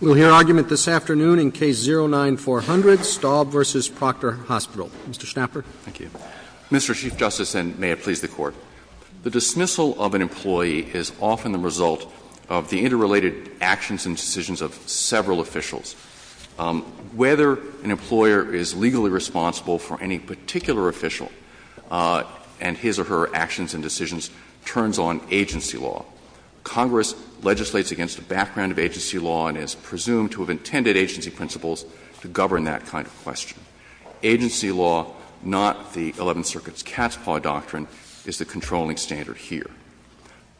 We'll hear argument this afternoon in Case 09-400, Staub v. Proctor Hospital. Mr. Schnapper. Thank you. Mr. Chief Justice, and may it please the Court, the dismissal of an employee is often the result of the interrelated actions and decisions of several officials. Whether an employer is legally responsible for any particular official and his or her actions and decisions turns on agency law. Congress legislates against the background of agency law and is presumed to have intended agency principles to govern that kind of question. Agency law, not the Eleventh Circuit's cat's paw doctrine, is the controlling standard here.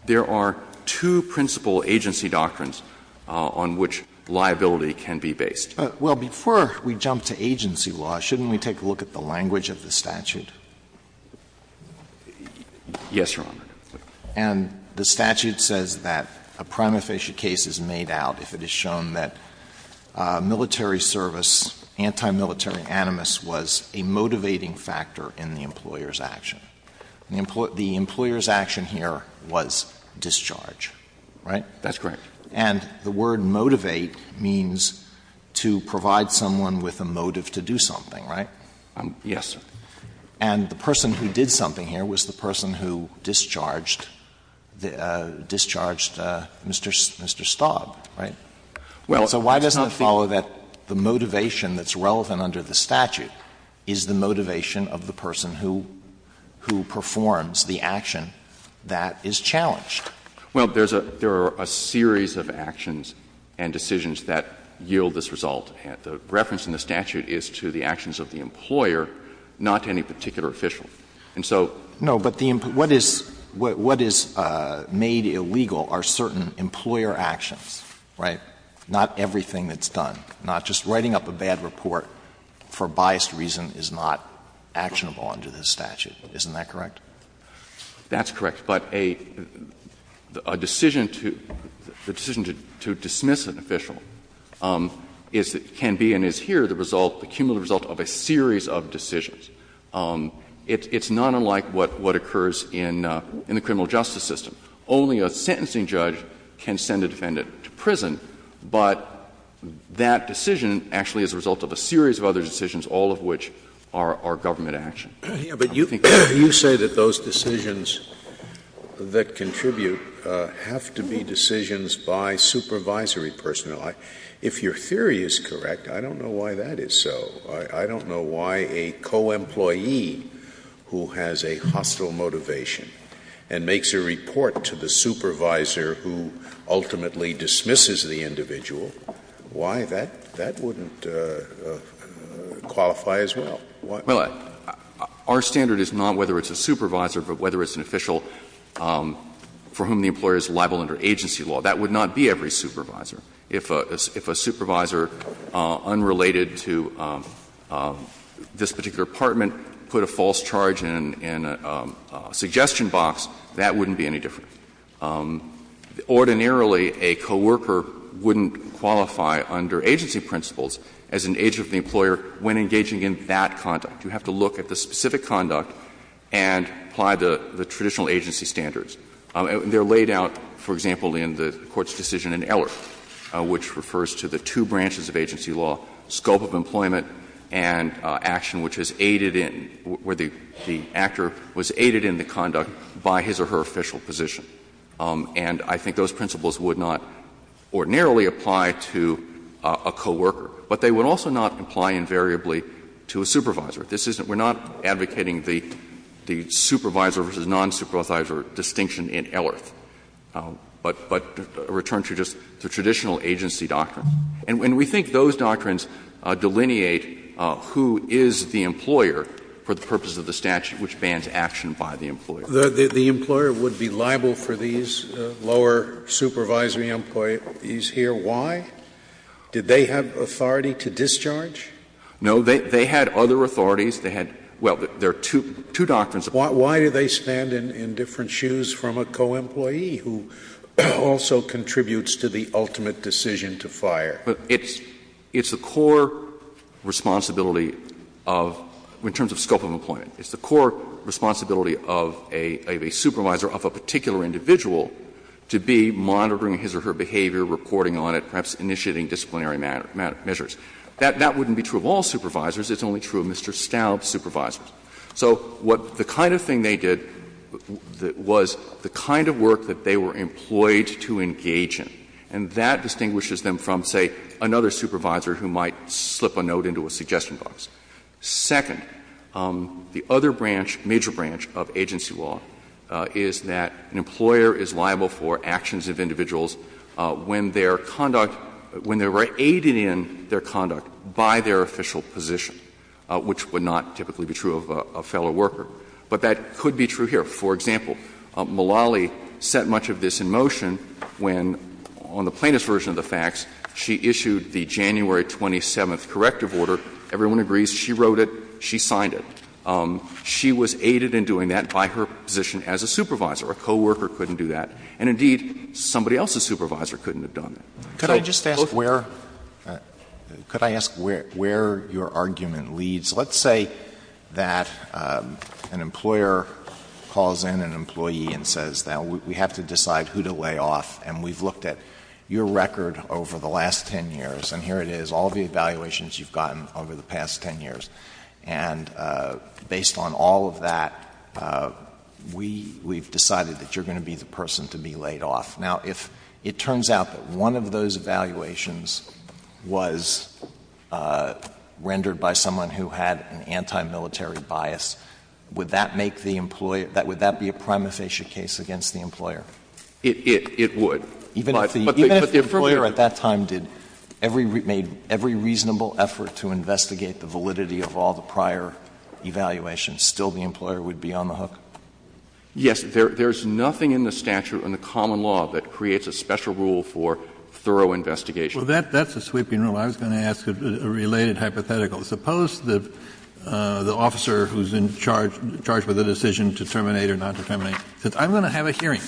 There are two principal agency doctrines on which liability can be based. Well, before we jump to agency law, shouldn't we take a look at the language of the statute? Yes, Your Honor. And the statute says that a prima facie case is made out if it is shown that military service, anti-military animus, was a motivating factor in the employer's action. The employer's action here was discharge, right? That's correct. And the word motivate means to provide someone with a motive to do something, right? Yes, sir. And the person who did something here was the person who discharged Mr. Staub, right? So why doesn't it follow that the motivation that's relevant under the statute is the motivation of the person who performs the action that is challenged? Well, there are a series of actions and decisions that yield this result. The reference in the statute is to the actions of the employer, not to any particular official. And so the employer's actions are not the actions of the employer. No, but what is made illegal are certain employer actions, right? Not everything that's done. Not just writing up a bad report for biased reason is not actionable under this statute. Isn't that correct? That's correct. But a decision to dismiss an official can be, and is here, the result, the cumulative result of a series of decisions. It's not unlike what occurs in the criminal justice system. Only a sentencing judge can send a defendant to prison, but that decision actually is a result of a series of other decisions, all of which are government action. But you say that those decisions that contribute have to be decisions by supervisory personnel. If your theory is correct, I don't know why that is so. I don't know why a co-employee who has a hostile motivation and makes a report to the supervisor who ultimately dismisses the individual, why that wouldn't qualify as well. Well, our standard is not whether it's a supervisor, but whether it's an official for whom the employer is liable under agency law. That would not be every supervisor. If a supervisor unrelated to this particular department put a false charge in a suggestion box, that wouldn't be any different. Ordinarily, a co-worker wouldn't qualify under agency principles as an agent of the conduct. You have to look at the specific conduct and apply the traditional agency standards. They are laid out, for example, in the Court's decision in Eller, which refers to the two branches of agency law, scope of employment and action which is aided in, where the actor was aided in the conduct by his or her official position. And I think those principles would not ordinarily apply to a co-worker, but they would also not apply invariably to a supervisor. This isn't we're not advocating the supervisor versus non-supervisor distinction in Eller, but a return to just the traditional agency doctrine. And we think those doctrines delineate who is the employer for the purpose of the statute which bans action by the employer. Scalia. The employer would be liable for these lower supervisory employees here. Why? Did they have authority to discharge? No. They had other authorities. They had — well, there are two doctrines. Why do they stand in different shoes from a co-employee who also contributes to the ultimate decision to fire? It's the core responsibility of — in terms of scope of employment. It's the core responsibility of a supervisor, of a particular individual, to be monitoring his or her behavior, reporting on it, perhaps initiating disciplinary measures. That wouldn't be true of all supervisors. It's only true of Mr. Staub's supervisors. So what — the kind of thing they did was the kind of work that they were employed to engage in. And that distinguishes them from, say, another supervisor who might slip a note into a suggestion box. Second, the other branch, major branch, of agency law is that an employer is liable for actions of individuals when their conduct — when they were aided in their conduct by their official position, which would not typically be true of a fellow worker. But that could be true here. For example, Mullally set much of this in motion when, on the plaintiff's version of the facts, she issued the January 27th corrective order. Everyone agrees she wrote it, she signed it. She was aided in doing that by her position as a supervisor. A co-worker couldn't do that. And indeed, somebody else's supervisor couldn't have done that. Alitoso, could I just ask where — could I ask where your argument leads? Let's say that an employer calls in an employee and says, now, we have to decide who to lay off, and we've looked at your record over the last 10 years, and here it is, all of the evaluations you've gotten over the past 10 years. And based on all of that, we've decided that you're going to be the person to be laid off. Now, if it turns out that one of those evaluations was rendered by someone who had an anti-military bias, would that make the — would that be a prima facie case against the employer? It would. But the — I'm saying that the validity of all the prior evaluations, still the employer would be on the hook. Yes. There's nothing in the statute, in the common law, that creates a special rule for thorough investigation. Well, that's a sweeping rule. I was going to ask a related hypothetical. Suppose that the officer who's in charge, charged with the decision to terminate or not to terminate, says, I'm going to have a hearing.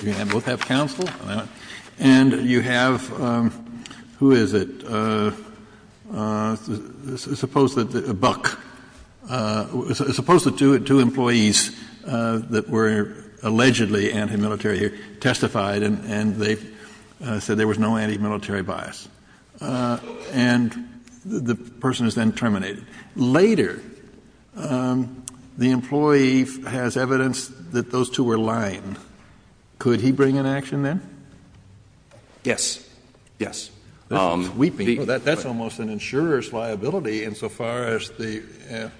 You're going to both have counsel, and you have — who is it? It's a — suppose that — Buck — suppose that two employees that were allegedly anti-military here testified, and they said there was no anti-military bias. And the person is then terminated. Later, the employee has evidence that those two were lying. Could he bring an action then? Yes. Yes. That's sweeping. That's almost an insurer's liability insofar as the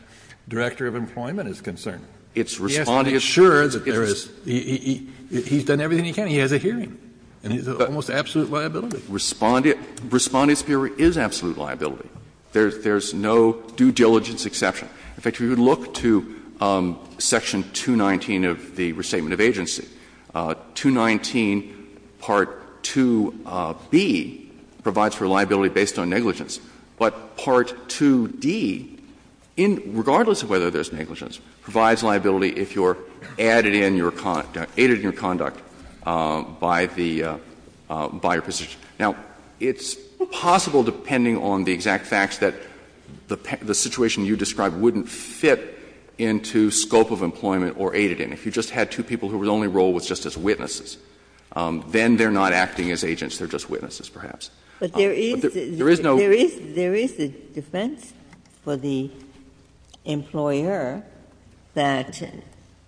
director of employment is concerned. It's Respondent's — Yes, he's sure that there is — he's done everything he can. He has a hearing. And it's almost absolute liability. Respondent's hearing is absolute liability. There's no due diligence exception. In fact, if you look to section 219 of the Restatement of Agency, 219 part 2b, it says that part 2b provides for liability based on negligence, but part 2d, in — regardless of whether there's negligence, provides liability if you're added in your — aided in your conduct by the — by your position. Now, it's possible, depending on the exact facts, that the situation you described wouldn't fit into scope of employment or aided in. If you just had two people whose only role was just as witnesses, then they're not acting as agents. They're just witnesses, perhaps. But there is no — There is a defense for the employer that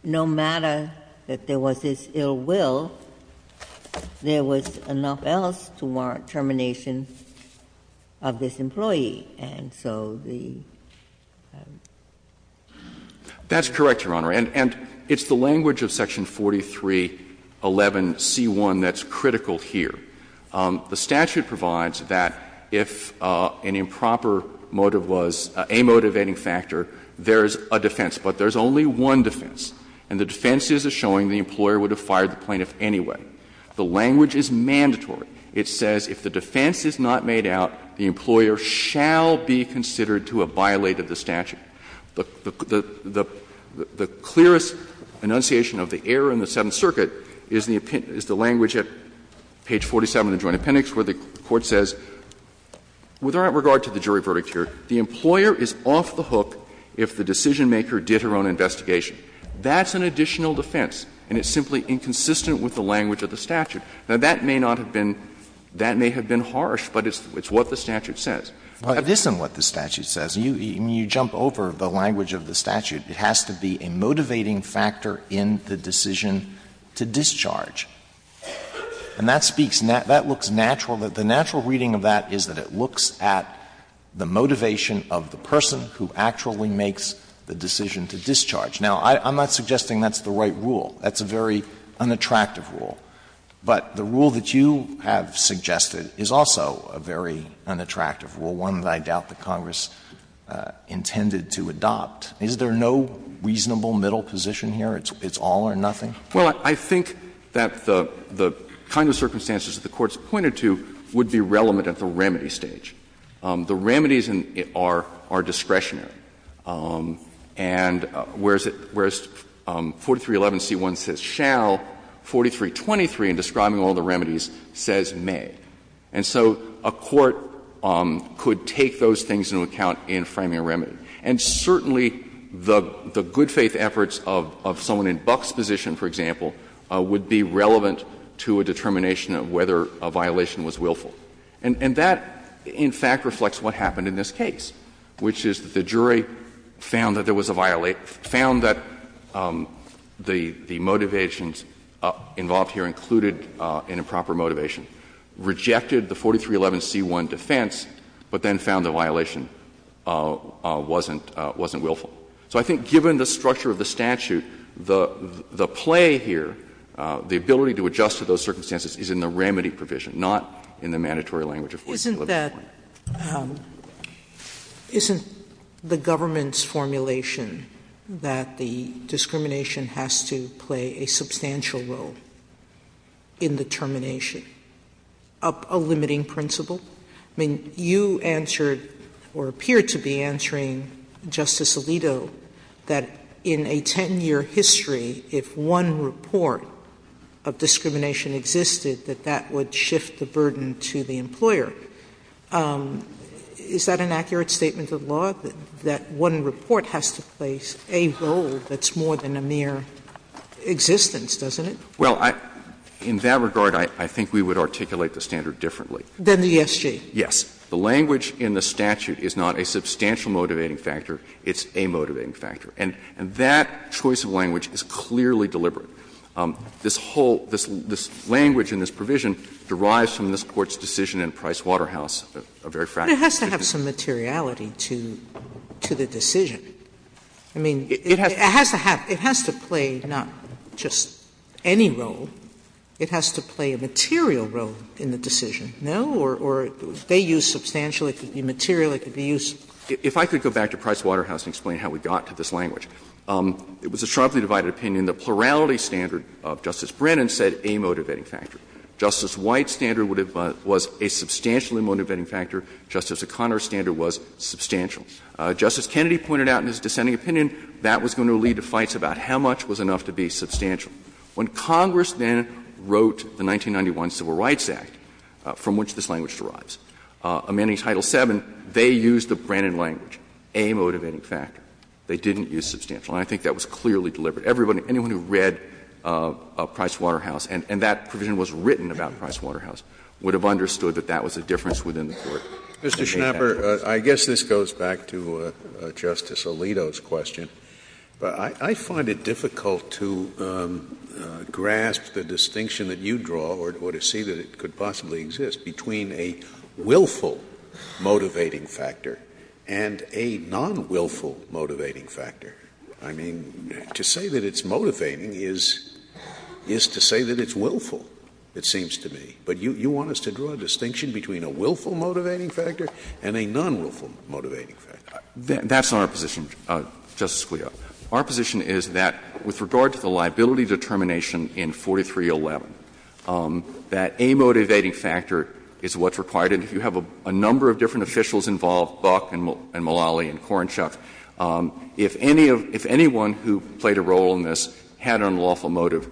no matter that there was this ill will, there was enough else to warrant termination of this employee. And so the — That's correct, Your Honor. And it's the language of section 4311c1 that's critical here. The statute provides that if an improper motive was a motivating factor, there is a defense, but there's only one defense. And the defense is a showing the employer would have fired the plaintiff anyway. The language is mandatory. It says if the defense is not made out, the employer shall be considered to have violated the statute. The clearest enunciation of the error in the Seventh Circuit is the language at page 47 of the Joint Appendix where the Court says, with all regard to the jury verdict here, the employer is off the hook if the decisionmaker did her own investigation. That's an additional defense, and it's simply inconsistent with the language of the statute. Now, that may not have been — that may have been harsh, but it's what the statute says. It isn't what the statute says. You jump over the language of the statute. It has to be a motivating factor in the decision to discharge. And that speaks — that looks natural. The natural reading of that is that it looks at the motivation of the person who actually makes the decision to discharge. Now, I'm not suggesting that's the right rule. That's a very unattractive rule. But the rule that you have suggested is also a very unattractive rule, one that I doubt the Congress intended to adopt. Is there no reasonable middle position here? It's all or nothing? Well, I think that the kind of circumstances that the Court's pointed to would be relevant at the remedy stage. The remedies are discretionary. And whereas 4311c1 says shall, 4323, in describing all the remedies, says may. And so a court could take those things into account in framing a remedy. And certainly the good faith efforts of someone in Buck's position, for example, would be relevant to a determination of whether a violation was willful. And that, in fact, reflects what happened in this case, which is that the jury found that there was a violation, found that the motivations involved here included an improper motivation, rejected the 4311c1 defense, but then found the violation wasn't willful. So I think given the structure of the statute, the play here, the ability to adjust to those circumstances is in the remedy provision, not in the mandatory language of 4311c1. Sotomayor, isn't that the government's formulation that the discrimination has to play a substantial role in the termination of a limiting principle? I mean, you answered or appeared to be answering, Justice Alito, that in a 10-year history, if one report of discrimination existed, that that would shift the burden to the employer. Is that an accurate statement of the law, that one report has to play a role that's more than a mere existence, doesn't it? Well, in that regard, I think we would articulate the standard differently. Than the ESG? Yes. The language in the statute is not a substantial motivating factor. It's a motivating factor. And that choice of language is clearly deliberate. This whole – this language in this provision derives from this Court's decision in Price Waterhouse, a very fractious decision. But it has to have some materiality to the decision. I mean, it has to have – it has to play not just any role. It has to play a material role in the decision. No? Or if they use substantial, it could be material, it could be useful. If I could go back to Price Waterhouse and explain how we got to this language. It was a sharply divided opinion. The plurality standard of Justice Brennan said a motivating factor. Justice White's standard was a substantially motivating factor. Justice O'Connor's standard was substantial. Justice Kennedy pointed out in his dissenting opinion that was going to lead to fights about how much was enough to be substantial. When Congress then wrote the 1991 Civil Rights Act, from which this language derives, amending Title VII, they used the Brennan language, a motivating factor. They didn't use substantial. And I think that was clearly deliberate. Everybody – anyone who read Price Waterhouse and that provision was written about Price Waterhouse would have understood that that was a difference within the Court. Scalia. Mr. Schnapper, I guess this goes back to Justice Alito's question. I find it difficult to grasp the distinction that you draw or to see that it could possibly exist between a willful motivating factor and a non-willful motivating factor. I mean, to say that it's motivating is to say that it's willful, it seems to me. But you want us to draw a distinction between a willful motivating factor and a non-willful motivating factor. That's not our position, Justice Scalia. Our position is that with regard to the liability determination in 4311, that a motivating factor is what's required. And if you have a number of different officials involved, Buck and Mulally and Korenchuk, if any of – if anyone who played a role in this had an unlawful motive,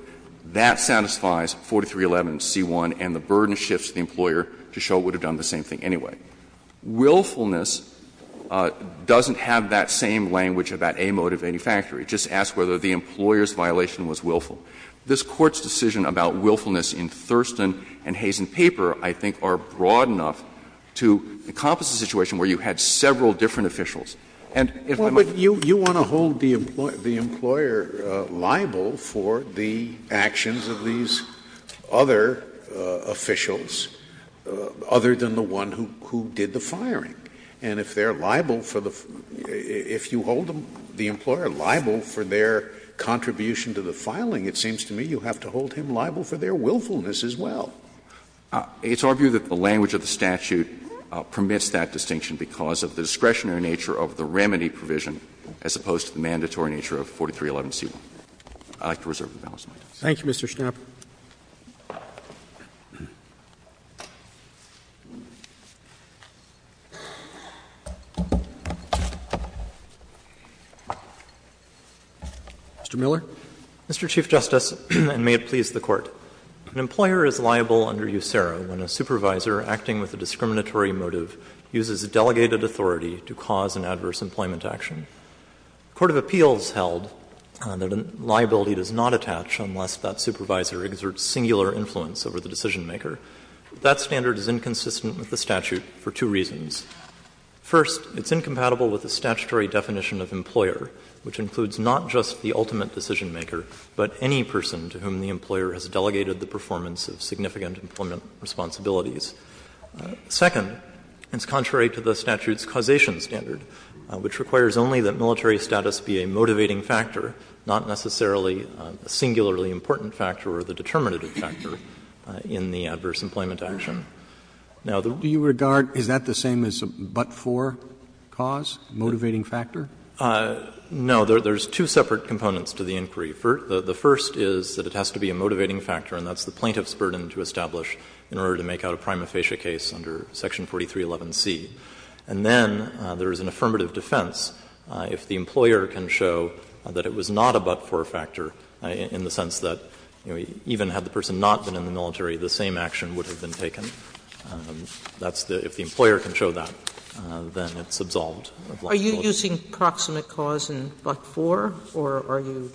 that satisfies 4311 and C-1, and the burden shifts to the employer to show it would have done the same thing anyway. Willfulness doesn't have that same language about a motivating factor. It just asks whether the employer's violation was willful. This Court's decision about willfulness in Thurston and Hayes and Paper, I think, are broad enough to encompass a situation where you had several different officials. And if I might add to that, Justice Scalia, I think that's what I'm trying to say. Scalia, but you want to hold the employer liable for the actions of these other officials, other than the one who did the firing. And if they're liable for the – if you hold the employer liable for their contribution to the filing, it seems to me you have to hold him liable for their willfulness as well. It's our view that the language of the statute permits that distinction because of the discretionary nature of the remedy provision as opposed to the mandatory nature of 4311 and C-1. I'd like to reserve the balance of my time. Roberts. Roberts. Thank you, Mr. Schnapper. Mr. Miller. Mr. Chief Justice, and may it please the Court, an employer is liable under USERRA when a supervisor acting with a discriminatory motive uses delegated authority to cause an adverse employment action. A court of appeals held that a liability does not attach unless that supervisor exerts singular influence over the decisionmaker. That standard is inconsistent with the statute for two reasons. First, it's incompatible with the statutory definition of employer, which includes not just the ultimate decisionmaker, but any person to whom the employer has delegated the performance of significant employment responsibilities. Second, it's contrary to the statute's causation standard, which requires only that military status be a motivating factor, not necessarily a singularly important factor or the determinative factor in the adverse employment action. Now, the rules of the statute prohibit the use of the term causation, but it's not the ultimate decisionmaker. There are two separate components to the inquiry. The first is that it has to be a motivating factor, and that's the plaintiff's burden to establish in order to make out a prima facie case under section 4311c. And then there is an affirmative defense if the employer can show that it was not a but-for factor in the sense that, you know, even had the person not been in the military, the same action would have been taken. That's the — if the employer can show that, then it's absolved of liability. Sotomayor, are you using proximate cause in but-for, or are you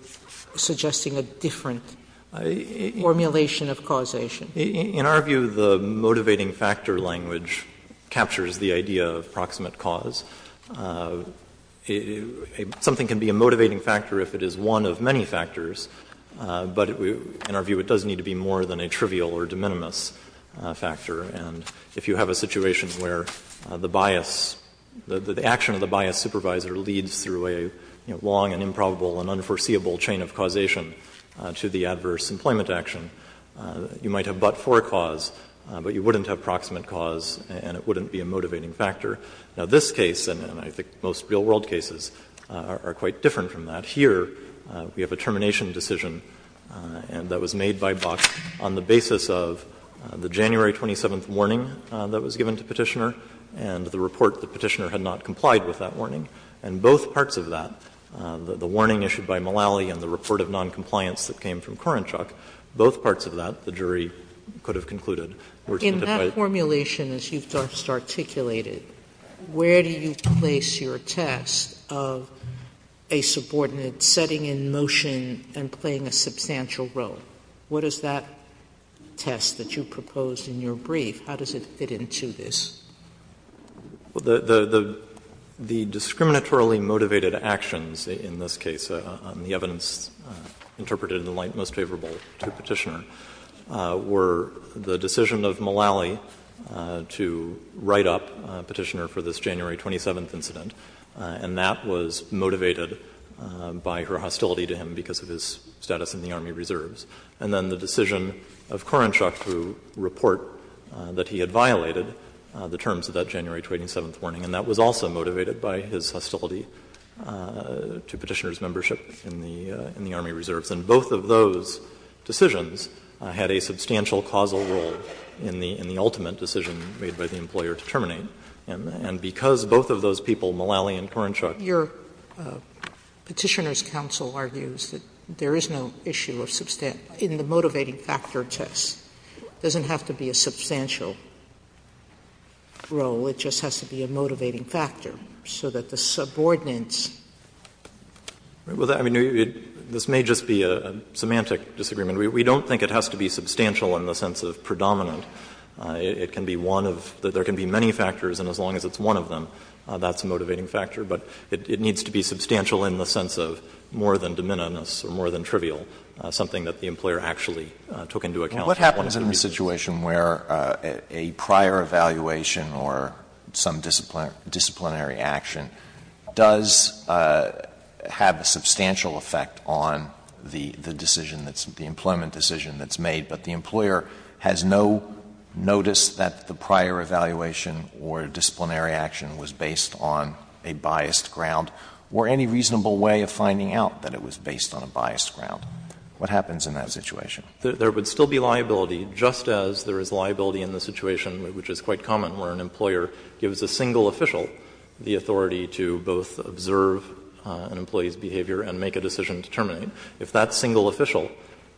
suggesting a different formulation of causation? In our view, the motivating factor language captures the idea of proximate cause. Something can be a motivating factor if it is one of many factors, but in our view it does need to be more than a trivial or de minimis factor. And if you have a situation where the bias, the action of the bias supervisor leads through a long and improbable and unforeseeable chain of causation to the adverse employment action, you might have but-for cause, but you wouldn't have proximate cause and it wouldn't be a motivating factor. Now, this case, and I think most real world cases, are quite different from that. Here we have a termination decision that was made by Box on the basis of the January 27th warning that was given to Petitioner and the report that Petitioner had not complied with that warning. And both parts of that, the warning issued by Mullally and the report of noncompliance that came from Korenchuk, both parts of that, the jury could have concluded, were identified. Sotomayor, in that formulation, as you've just articulated, where do you place your test of a subordinate setting in motion and playing a substantial role? What is that test that you proposed in your brief? How does it fit into this? The discriminatorily motivated actions in this case, on the evidence interpreted in light most favorable to Petitioner, were the decision of Mullally to write up Petitioner for this January 27th incident, and that was motivated by her hostility to him because of his status in the Army Reserves. And then the decision of Korenchuk to report that he had violated the terms of that January 27th warning, and that was also motivated by his hostility to Petitioner's membership in the Army Reserves. And both of those decisions had a substantial causal role in the ultimate decision made by the employer to terminate. Sotomayor, your Petitioner's counsel argues that there is no issue of substantive in the motivating factor test. It doesn't have to be a substantial role. It just has to be a motivating factor, so that the subordinates. Well, I mean, this may just be a semantic disagreement. We don't think it has to be substantial in the sense of predominant. It can be one of the – there can be many factors, and as long as it's one of them, that's a motivating factor. But it needs to be substantial in the sense of more than de minimis or more than trivial, something that the employer actually took into account. What happens in a situation where a prior evaluation or some disciplinary action does have a substantial effect on the decision that's – the employment decision that's made, but the employer has no notice that the prior evaluation or disciplinary action was based on a biased ground or any reasonable way of finding out that it was based on a biased ground? What happens in that situation? There would still be liability, just as there is liability in the situation, which is quite common, where an employer gives a single official the authority to both observe an employee's behavior and make a decision to terminate. If that single official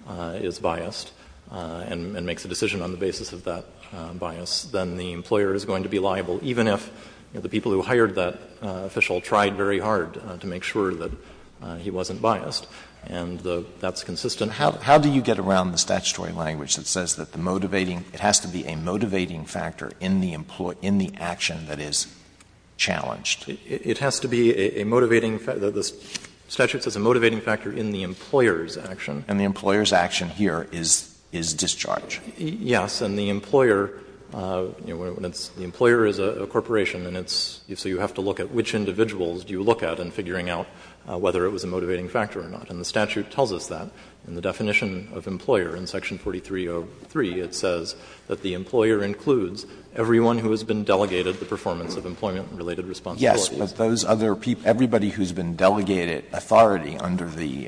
is biased and makes a decision on the basis of that bias, then the employer is going to be liable, even if the people who hired that official tried very hard to make sure that he wasn't biased. And that's consistent. How do you get around the statutory language that says that the motivating – it has to be a motivating factor in the action that is challenged? It has to be a motivating – the statute says a motivating factor in the employer's action. And the employer's action here is discharge. Yes. And the employer, you know, when it's – the employer is a corporation and it's – so you have to look at which individuals do you look at in figuring out whether it was a motivating factor or not. And the statute tells us that. In the definition of employer in section 4303, it says that the employer includes everyone who has been delegated the performance of employment-related responsibilities. Yes, but those other people, everybody who has been delegated authority under the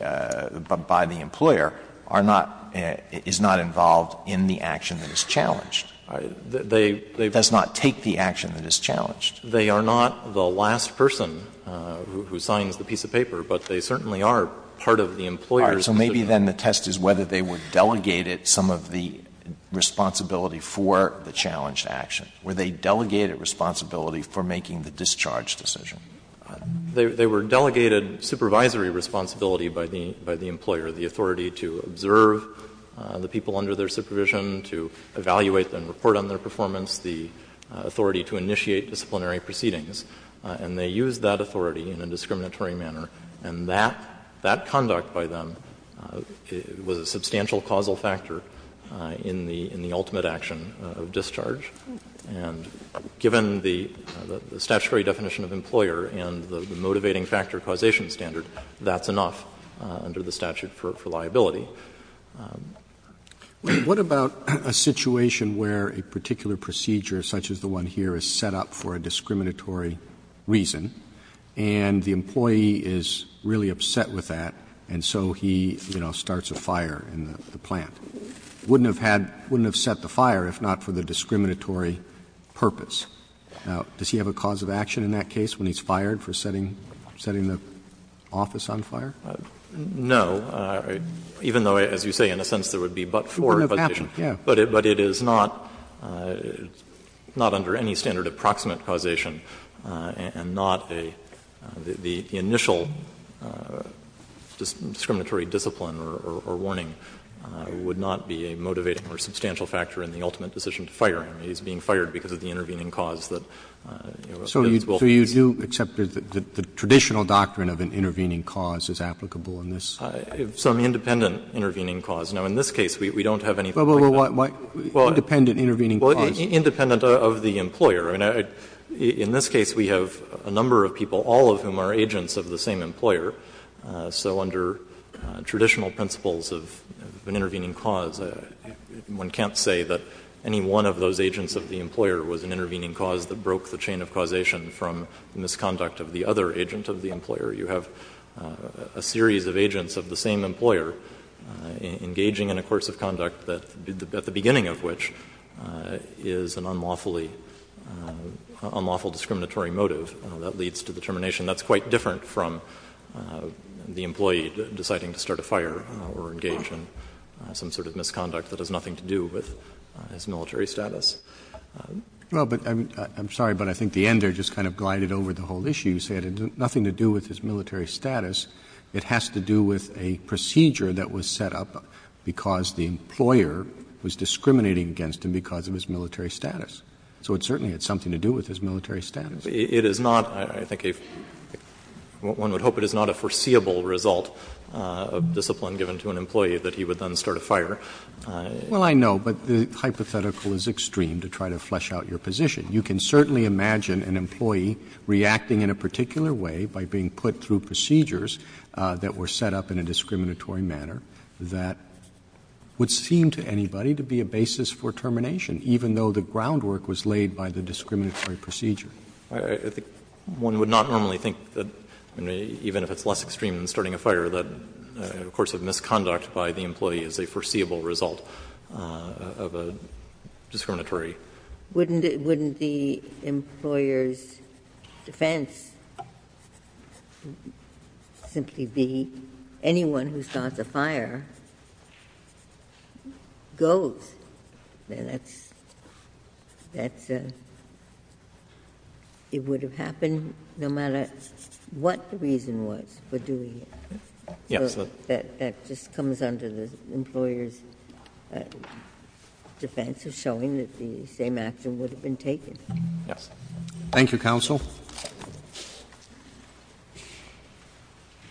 – by the employer, are not – is not involved in the action that is challenged. They – they've Does not take the action that is challenged. They are not the last person who signs the piece of paper, but they certainly are part of the employer's decision. All right. So maybe then the test is whether they were delegated some of the responsibility for the challenged action. Were they delegated responsibility for making the discharge decision? They were delegated supervisory responsibility by the employer, the authority to observe the people under their supervision, to evaluate and report on their performance, the authority to initiate disciplinary proceedings. And they used that authority in a discriminatory manner. And that conduct by them was a substantial causal factor in the ultimate action of discharge. And given the statutory definition of employer and the motivating factor causation standard, that's enough under the statute for liability. What about a situation where a particular procedure such as the one here is set up for a discriminatory reason, and the employee is really upset with that, and so he, you know, starts a fire in the plant? Wouldn't have had — wouldn't have set the fire if not for the discriminatory purpose. Now, does he have a cause of action in that case when he's fired for setting the office on fire? No. Even though, as you say, in a sense there would be but-for causation. But it is not under any standard of proximate causation, and not a — the initial discriminatory discipline or warning would not be a motivating or substantial factor in the ultimate decision to fire him. He's being fired because of the intervening cause that, you know, this will be. Roberts, so you do accept that the traditional doctrine of an intervening cause is applicable in this case? Some independent intervening cause. Now, in this case, we don't have anything. Well, why independent intervening cause? Well, independent of the employer. I mean, in this case, we have a number of people, all of whom are agents of the same employer. So under traditional principles of an intervening cause, one can't say that any one of those agents of the employer was an intervening cause that broke the chain of causation from the misconduct of the other agent of the employer. You have a series of agents of the same employer engaging in a course of conduct that, at the beginning of which, is an unlawfully — unlawful discriminatory motive that leads to the termination. That's quite different from the employee deciding to start a fire or engage in some sort of misconduct that has nothing to do with his military status. Well, but I'm sorry, but I think the ender just kind of glided over the whole issue. You said it had nothing to do with his military status. It has to do with a procedure that was set up because the employer was discriminating against him because of his military status. So it certainly had something to do with his military status. It is not, I think, a — one would hope it is not a foreseeable result of discipline given to an employee that he would then start a fire. Well, I know, but the hypothetical is extreme to try to flesh out your position. You can certainly imagine an employee reacting in a particular way by being put through a series of procedures that were set up in a discriminatory manner that would seem to anybody to be a basis for termination, even though the groundwork was laid by the discriminatory procedure. I think one would not normally think that, even if it's less extreme than starting a fire, that a course of misconduct by the employee is a foreseeable result of a discriminatory motive. Wouldn't the employer's defense simply be, anyone who starts a fire goes? That's a — it would have happened no matter what the reason was for doing it. Yes. So that just comes under the employer's defense of showing that the same action would have been taken. Yes. Thank you, counsel.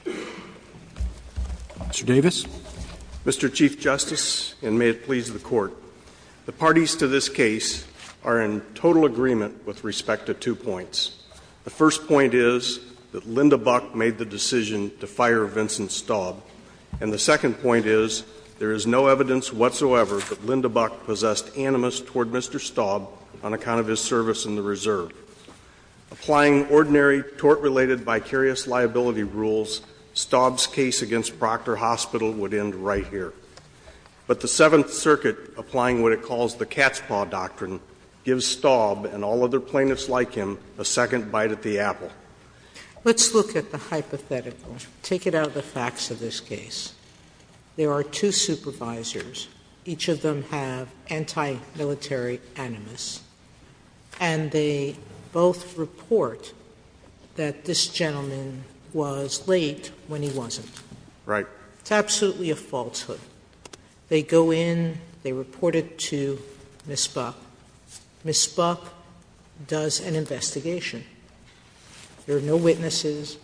Mr. Davis. Mr. Chief Justice, and may it please the Court, the parties to this case are in total agreement with respect to two points. The first point is that Linda Buck made the decision to fire Vincent Staub. And the second point is there is no evidence whatsoever that Linda Buck possessed animus toward Mr. Staub on account of his service in the Reserve. Applying ordinary tort-related vicarious liability rules, Staub's case against Proctor Hospital would end right here. But the Seventh Circuit, applying what it calls the cat's paw doctrine, gives Staub and all other plaintiffs like him a second bite at the apple. Let's look at the hypothetical. Take it out of the facts of this case. There are two supervisors. Each of them have anti-military animus. And they both report that this gentleman was late when he wasn't. Right. It's absolutely a falsehood. They go in. They report it to Ms. Buck. Ms. Buck does an investigation. There are no witnesses.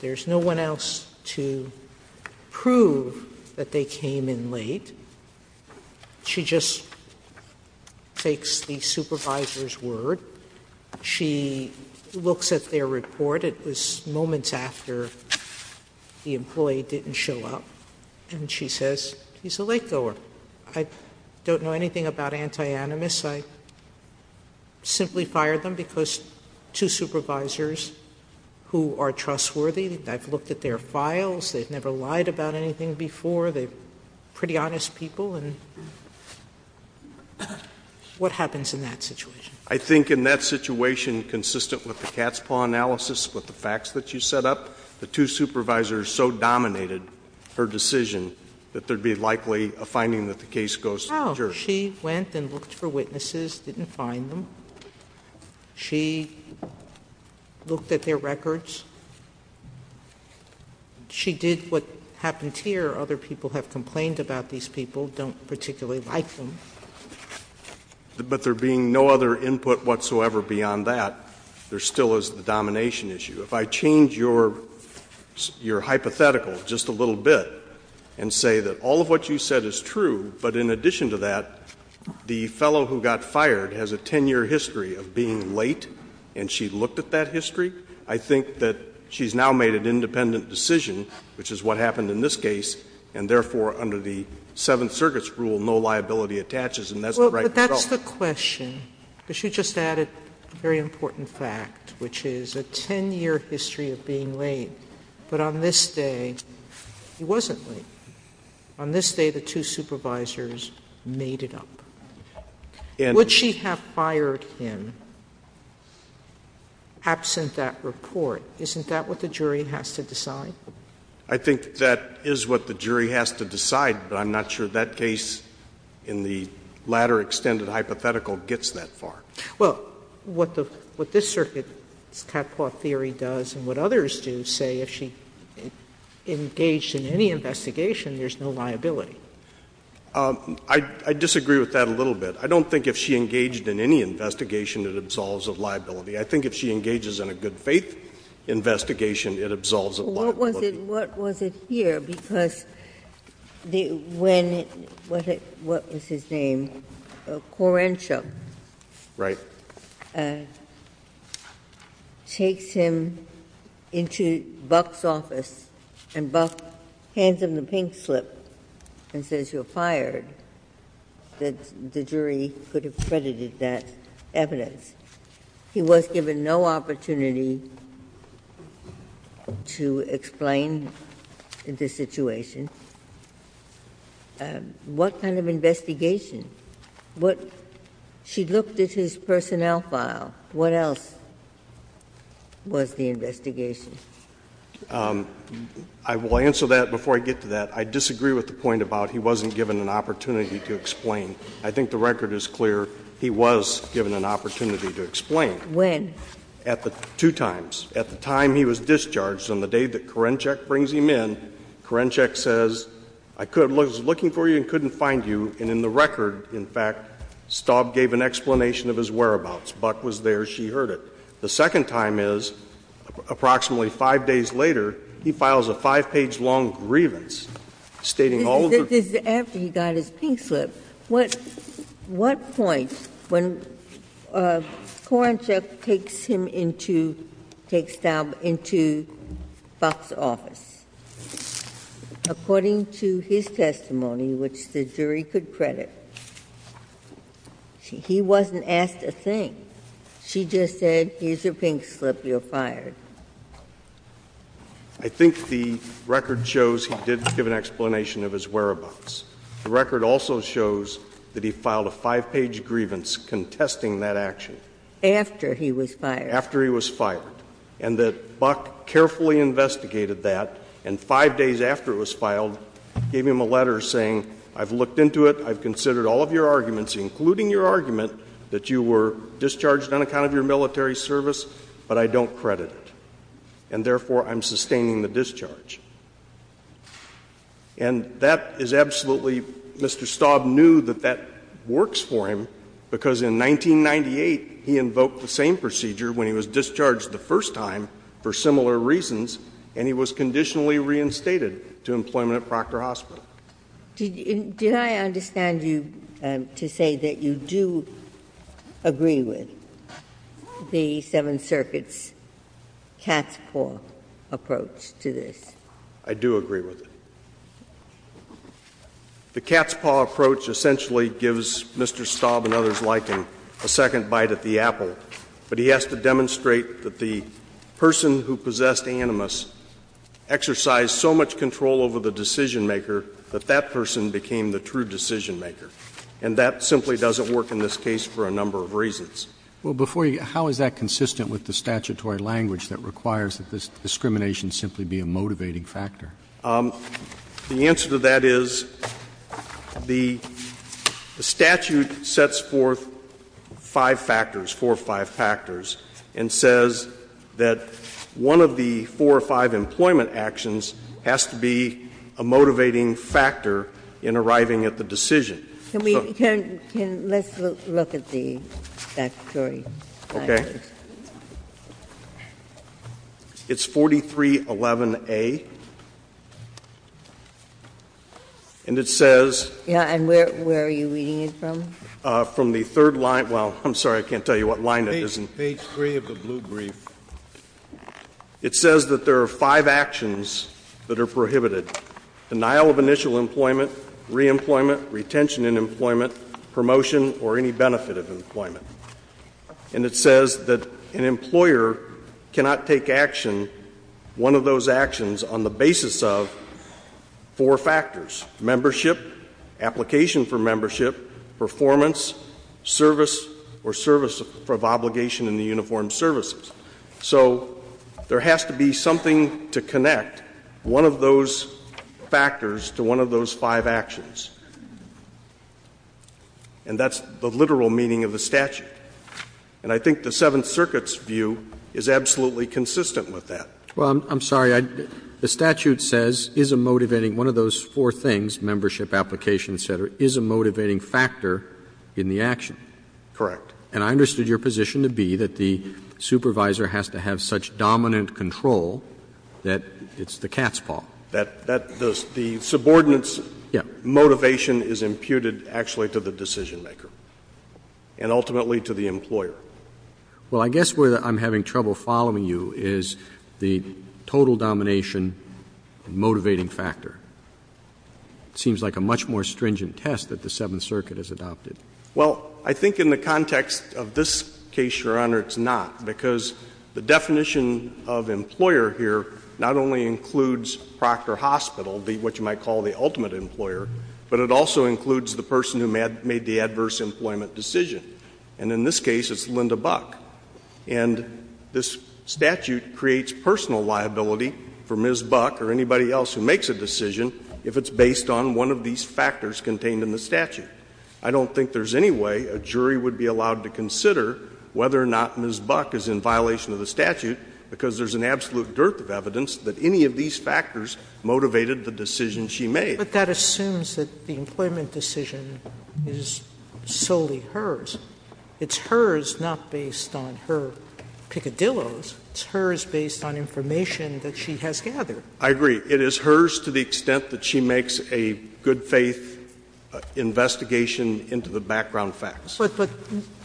There is no one else to prove that they came in late. She just takes the supervisor's word. She looks at their report. It was moments after the employee didn't show up. And she says, he's a late-goer. I don't know anything about anti-animus. I simply fired them because two supervisors who are trustworthy. I've looked at their files. They've never lied about anything before. They're pretty honest people. And what happens in that situation? I think in that situation, consistent with the cat's paw analysis, with the facts that you set up, the two supervisors so dominated her decision that there'd be likely a finding that the case goes to the jury. So she went and looked for witnesses, didn't find them. She looked at their records. She did what happened here. Other people have complained about these people, don't particularly like them. But there being no other input whatsoever beyond that, there still is the domination issue. If I change your hypothetical just a little bit and say that all of what you said is true, but in addition to that, the fellow who got fired has a 10-year history of being late, and she looked at that history, I think that she's now made an independent decision, which is what happened in this case, and therefore under the Seventh Circuit's rule, no liability attaches, and that's not right at all. Sotomayor, because you just added a very important fact, which is a 10-year history of being late, but on this day, he wasn't late. On this day, the two supervisors made it up. And would she have fired him absent that report? Isn't that what the jury has to decide? I think that is what the jury has to decide, but I'm not sure that case in the latter extended hypothetical gets that far. Sotomayor, what this Circuit's Catpaw theory does and what others do say, if she engaged in any investigation, there's no liability. I disagree with that a little bit. I don't think if she engaged in any investigation, it absolves of liability. I think if she engages in a good faith investigation, it absolves of liability. What was it here? Because when the – what was his name? Querenshaw. Right. Takes him into Buck's office and Buck hands him the pink slip and says, you're fired, that the jury could have credited that evidence. He was given no opportunity to explain the situation. What kind of investigation? What – she looked at his personnel file. What else was the investigation? I will answer that before I get to that. I disagree with the point about he wasn't given an opportunity to explain. I think the record is clear. He was given an opportunity to explain. When? At the two times. At the time he was discharged, on the day that Querenshaw brings him in, Querenshaw says, I was looking for you and couldn't find you, and in the record, in fact, Staub gave an explanation of his whereabouts. Buck was there, she heard it. The second time is, approximately 5 days later, he files a 5-page-long grievance stating all of the – This is after he got his pink slip. What point when Querenshaw takes him into – takes Staub into Buck's office? According to his testimony, which the jury could credit, he wasn't asked a thing. She just said, here's your pink slip, you're fired. I think the record shows he didn't give an explanation of his whereabouts. The record also shows that he filed a 5-page grievance contesting that action. After he was fired. And that Buck carefully investigated that, and 5 days after it was filed, gave him a letter saying, I've looked into it, I've considered all of your arguments, including your argument, that you were discharged on account of your military service, but I don't credit it. And therefore, I'm sustaining the discharge. And that is absolutely – Mr. Staub knew that that works for him, because in 1998, he invoked the same procedure when he was discharged the first time for similar reasons, and he was conditionally reinstated to employment at Proctor Hospital. Did I understand you to say that you do agree with the Seventh Circuit's cat's paw approach to this? I do agree with it. The cat's paw approach essentially gives Mr. Staub and others like him a second bite at the apple. But he has to demonstrate that the person who possessed Animus exercised so much control over the decision-maker that that person became the true decision-maker. And that simply doesn't work in this case for a number of reasons. Well, before you – how is that consistent with the statutory language that requires that this discrimination simply be a motivating factor? The answer to that is the statute sets forth five factors, four or five factors, and says that one of the four or five employment actions has to be a motivating factor in arriving at the decision. Can we turn – let's look at the statutory language. Okay. It's 4311A, and it says – And where are you reading it from? From the third line – well, I'm sorry, I can't tell you what line it is in. Page 3 of the blue brief. It says that there are five actions that are prohibited, denial of initial employment, re-employment, retention in employment, promotion, or any benefit of employment. And it says that an employer cannot take action, one of those actions, on the basis of four factors – membership, application for membership, performance, service, or service of obligation in the uniformed services. So there has to be something to connect one of those factors to one of those five actions, and that's the literal meaning of the statute. And I think the Seventh Circuit's view is absolutely consistent with that. Well, I'm sorry, I – the statute says is a motivating – one of those four things, membership, application, et cetera, is a motivating factor in the action. Correct. And I understood your position to be that the supervisor has to have such dominant control that it's the cat's paw. That the subordinate's motivation is imputed actually to the decision-maker and ultimately to the employer. Well, I guess where I'm having trouble following you is the total domination and motivating factor. It seems like a much more stringent test that the Seventh Circuit has adopted. Well, I think in the context of this case, Your Honor, it's not, because the definition of employer here not only includes Proctor Hospital, what you might call the ultimate employer, but it also includes the person who made the adverse employment decision. And in this case, it's Linda Buck. And this statute creates personal liability for Ms. Buck or anybody else who makes a decision if it's based on one of these factors contained in the statute. I don't think there's any way a jury would be allowed to consider whether or not Ms. Buck made a decision based on the statute because there's an absolute dearth of evidence that any of these factors motivated the decision she made. But that assumes that the employment decision is solely hers. It's hers not based on her piccadillos. It's hers based on information that she has gathered. I agree. It is hers to the extent that she makes a good faith investigation into the background facts. But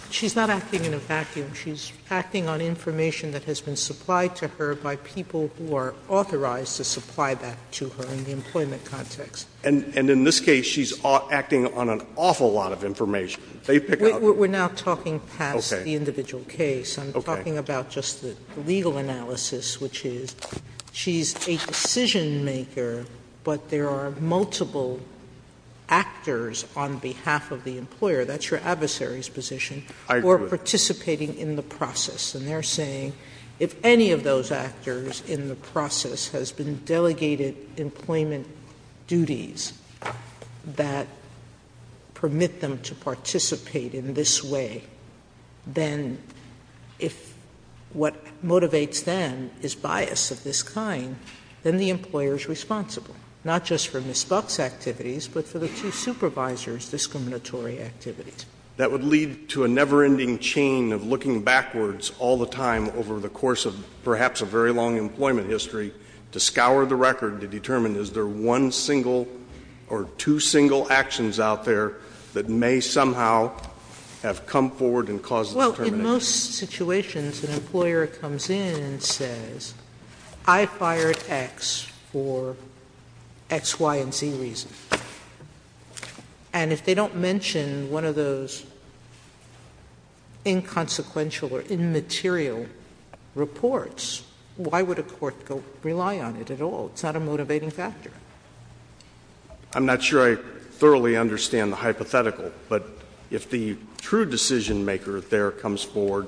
she's not acting in a vacuum. She's acting on information that has been supplied to her by people who are authorized to supply that to her in the employment context. And in this case, she's acting on an awful lot of information. They've picked out- We're now talking past the individual case. I'm talking about just the legal analysis, which is she's a decision maker, but there are multiple actors on behalf of the employer. That's your adversary's position- I agree. Who are participating in the process. And they're saying, if any of those actors in the process has been delegated employment duties that permit them to participate in this way. Then if what motivates them is bias of this kind, then the employer's responsible. Not just for Ms. Buck's activities, but for the two supervisors' discriminatory activities. That would lead to a never ending chain of looking backwards all the time over the course of perhaps a very long employment history. To scour the record to determine is there one single or two single actions out there that may somehow have come forward and caused the termination. In most situations, an employer comes in and says, I fired X for X, Y, and Z reasons. And if they don't mention one of those inconsequential or immaterial reports, why would a court go rely on it at all? It's not a motivating factor. I'm not sure I thoroughly understand the hypothetical, but if the true decision maker there comes forward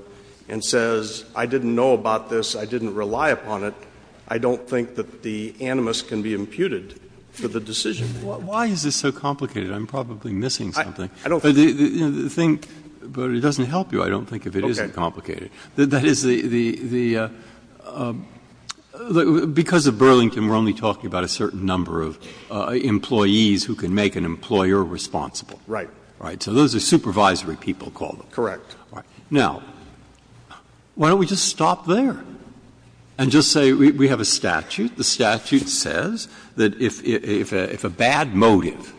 and says, I didn't know about this, I didn't rely upon it, I don't think that the animus can be imputed for the decision. Why is this so complicated? I'm probably missing something. I don't- But the thing, but it doesn't help you, I don't think, if it isn't complicated. Okay. That is the, because of Burlington, we're only talking about a certain number of employees who can make an employer responsible. Right. Right, so those are supervisory people, call them. Correct. Now, why don't we just stop there and just say we have a statute. The statute says that if a bad motive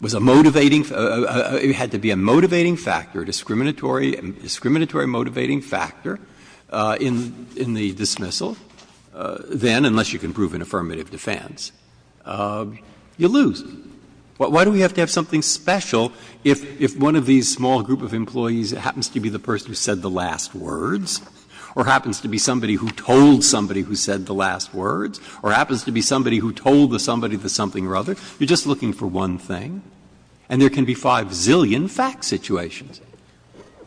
was a motivating, it had to be a motivating factor, discriminatory motivating factor in the dismissal, then, unless you can prove an affirmative defense, you lose. Why do we have to have something special if one of these small group of employees happens to be the person who said the last words or happens to be somebody who told somebody who said the last words or happens to be somebody who told somebody the something or other, you're just looking for one thing, and there can be 5 zillion fact situations.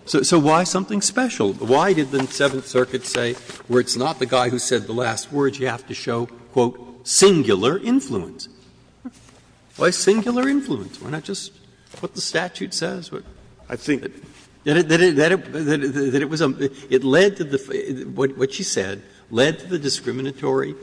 So why something special? Why did the Seventh Circuit say where it's not the guy who said the last words, you have to show, quote, singular influence? Why singular influence? Why not just what the statute says? I think that it was a, it led to the, what she said, led to the discriminatory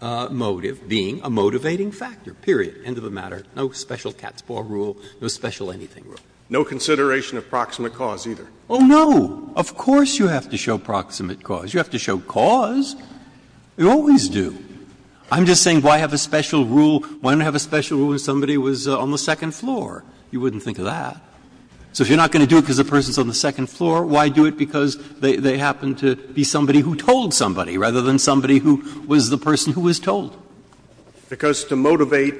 motive being a motivating factor, period, end of the matter. No special cat's paw rule, no special anything rule. Breyer, No consideration of proximate cause either. Breyer, Oh, no. Of course you have to show proximate cause. You have to show cause. You always do. I'm just saying why have a special rule, why not have a special rule if somebody was on the second floor? You wouldn't think of that. So if you're not going to do it because the person's on the second floor, why do it because they happen to be somebody who told somebody rather than somebody who was the person who was told? Breyer, Because to motivate,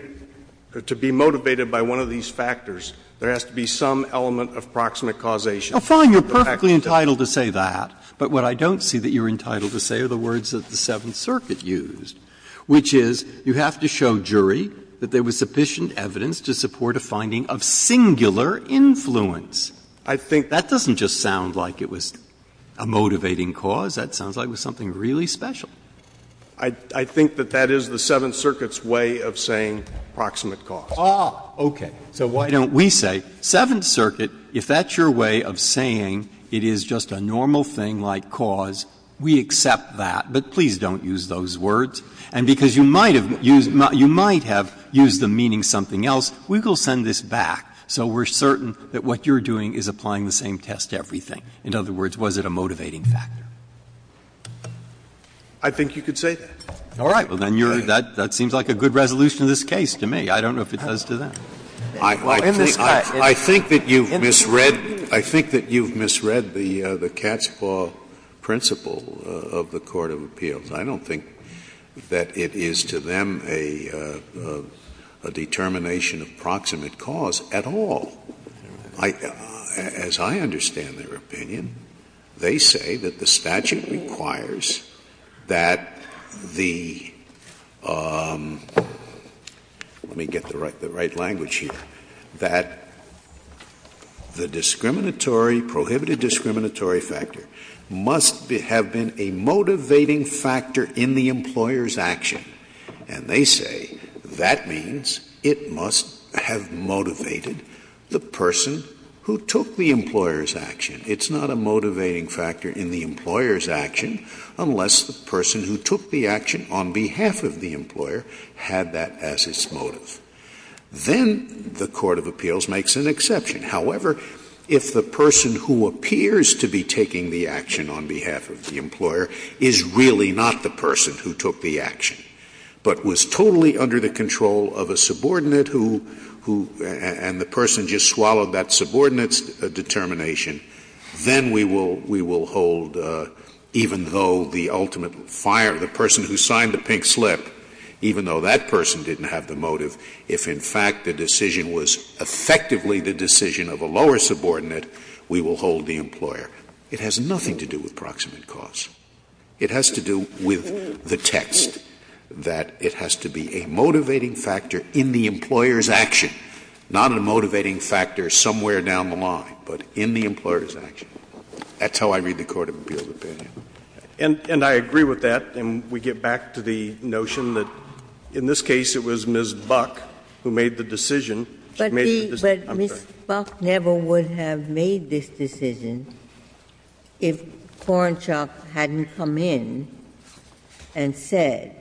to be motivated by one of these factors, there has to be some element of proximate causation. Breyer, Oh, fine. You're perfectly entitled to say that. But what I don't see that you're entitled to say are the words that the Seventh Circuit used, which is you have to show jury that there was sufficient evidence to support a finding of singular influence. Breyer, I think. Breyer, That doesn't just sound like it was a motivating cause. That sounds like it was something really special. I think that that is the Seventh Circuit's way of saying proximate cause. Breyer, Ah, okay. So why don't we say, Seventh Circuit, if that's your way of saying it is just a normal thing like cause, we accept that. But please don't use those words. And because you might have used the meaning something else, we will send this back so we're certain that what you're doing is applying the same test to everything. In other words, was it a motivating factor? I think you could say that. Breyer, All right. Well, then you're that seems like a good resolution to this case to me. I don't know if it does to them. Scalia, I think that you've misread the catch-all principle of the court of appeals. I don't think that it is to them a determination of proximate cause at all. As I understand their opinion, they say that the statute requires that the, let me get the right language here, that the discriminatory, prohibited discriminatory factor must have been a motivating factor in the employer's action. And they say that means it must have motivated the person who took the employer's action. It's not a motivating factor in the employer's action unless the person who took the action on behalf of the employer had that as its motive. Then the court of appeals makes an exception. However, if the person who appears to be taking the action on behalf of the employer is really not the person who took the action, but was totally under the control of a subordinate who, and the person just swallowed that subordinate's determination, then we will hold, even though the ultimate fire, the person who signed the pink slip, even though that person didn't have the motive, if in fact the decision was effectively the decision of a lower subordinate, we will hold the employer. It has nothing to do with proximate cause. It has to do with the text, that it has to be a motivating factor in the employer's action, not a motivating factor somewhere down the line, but in the employer's action. That's how I read the court of appeals opinion. And I agree with that, and we get back to the notion that in this case it was Ms. Buck who made the decision. She made the decision. But Ms. Buck never would have made this decision if Korenchuk hadn't come in and said,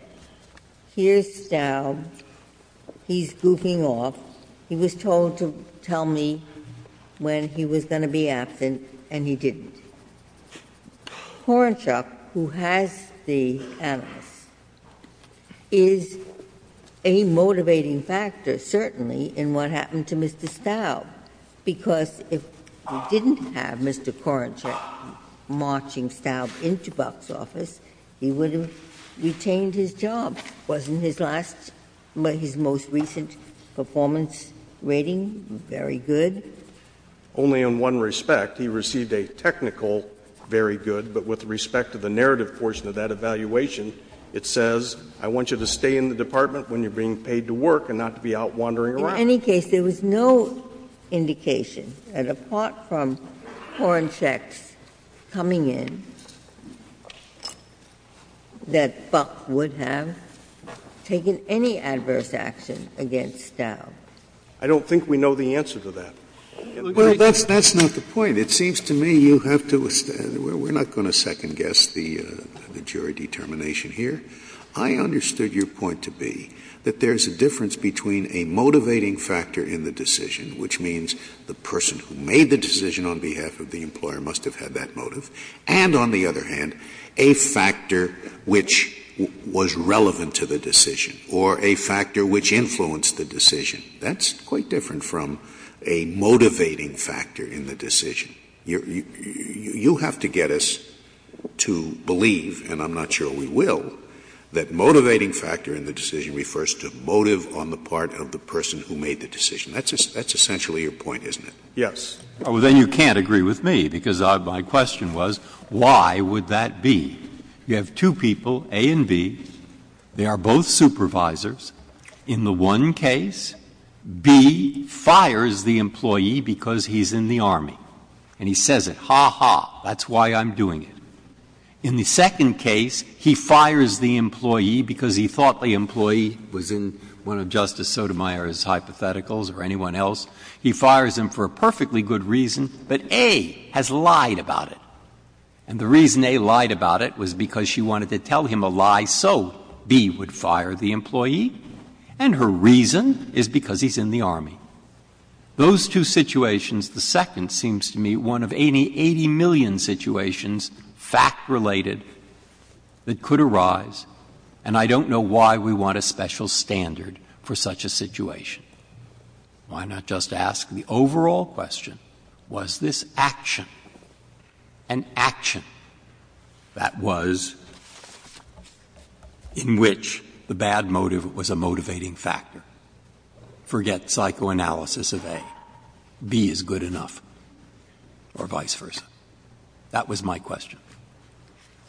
here's Staub, he's goofing off, he was told to tell me when he was going to be absent, and he didn't. Korenchuk, who has the analyst, is a motivating factor, certainly, in what happened to Mr. Staub, because if we didn't have Mr. Korenchuk marching Staub into Buck's office, he would have retained his job. Wasn't his last or his most recent performance rating very good? Only in one respect. He received a technical very good, but with respect to the narrative portion of that evaluation, it says, I want you to stay in the department when you're being paid to work and not to be out wandering around. In any case, there was no indication that, apart from Korenchuk's coming in, that Buck would have taken any adverse action against Staub. I don't think we know the answer to that. Well, that's not the point. It seems to me you have to — we're not going to second-guess the jury determination here. I understood your point to be that there's a difference between a motivating factor in the decision, which means the person who made the decision on behalf of the employer must have had that motive, and, on the other hand, a factor which was relevant to the decision or a factor which influenced the decision. That's quite different from a motivating factor in the decision. You have to get us to believe, and I'm not sure we will, that motivating factor in the decision refers to motive on the part of the person who made the decision. That's essentially your point, isn't it? Yes. Well, then you can't agree with me, because my question was, why would that be? You have two people, A and B, they are both supervisors. In the one case, B fires the employee because he's in the army. And he says it, ha, ha, that's why I'm doing it. In the second case, he fires the employee because he thought the employee was in one of Justice Sotomayor's hypotheticals or anyone else. He fires him for a perfectly good reason, but A has lied about it. And the reason A lied about it was because she wanted to tell him a lie, so B would fire the employee. And her reason is because he's in the army. Those two situations, the second seems to me one of 80 million situations, fact-related, that could arise. And I don't know why we want a special standard for such a situation. Why not just ask the overall question, was this action an action that was in which the bad motive was a motivating factor? Forget psychoanalysis of A. B is good enough, or vice versa. That was my question.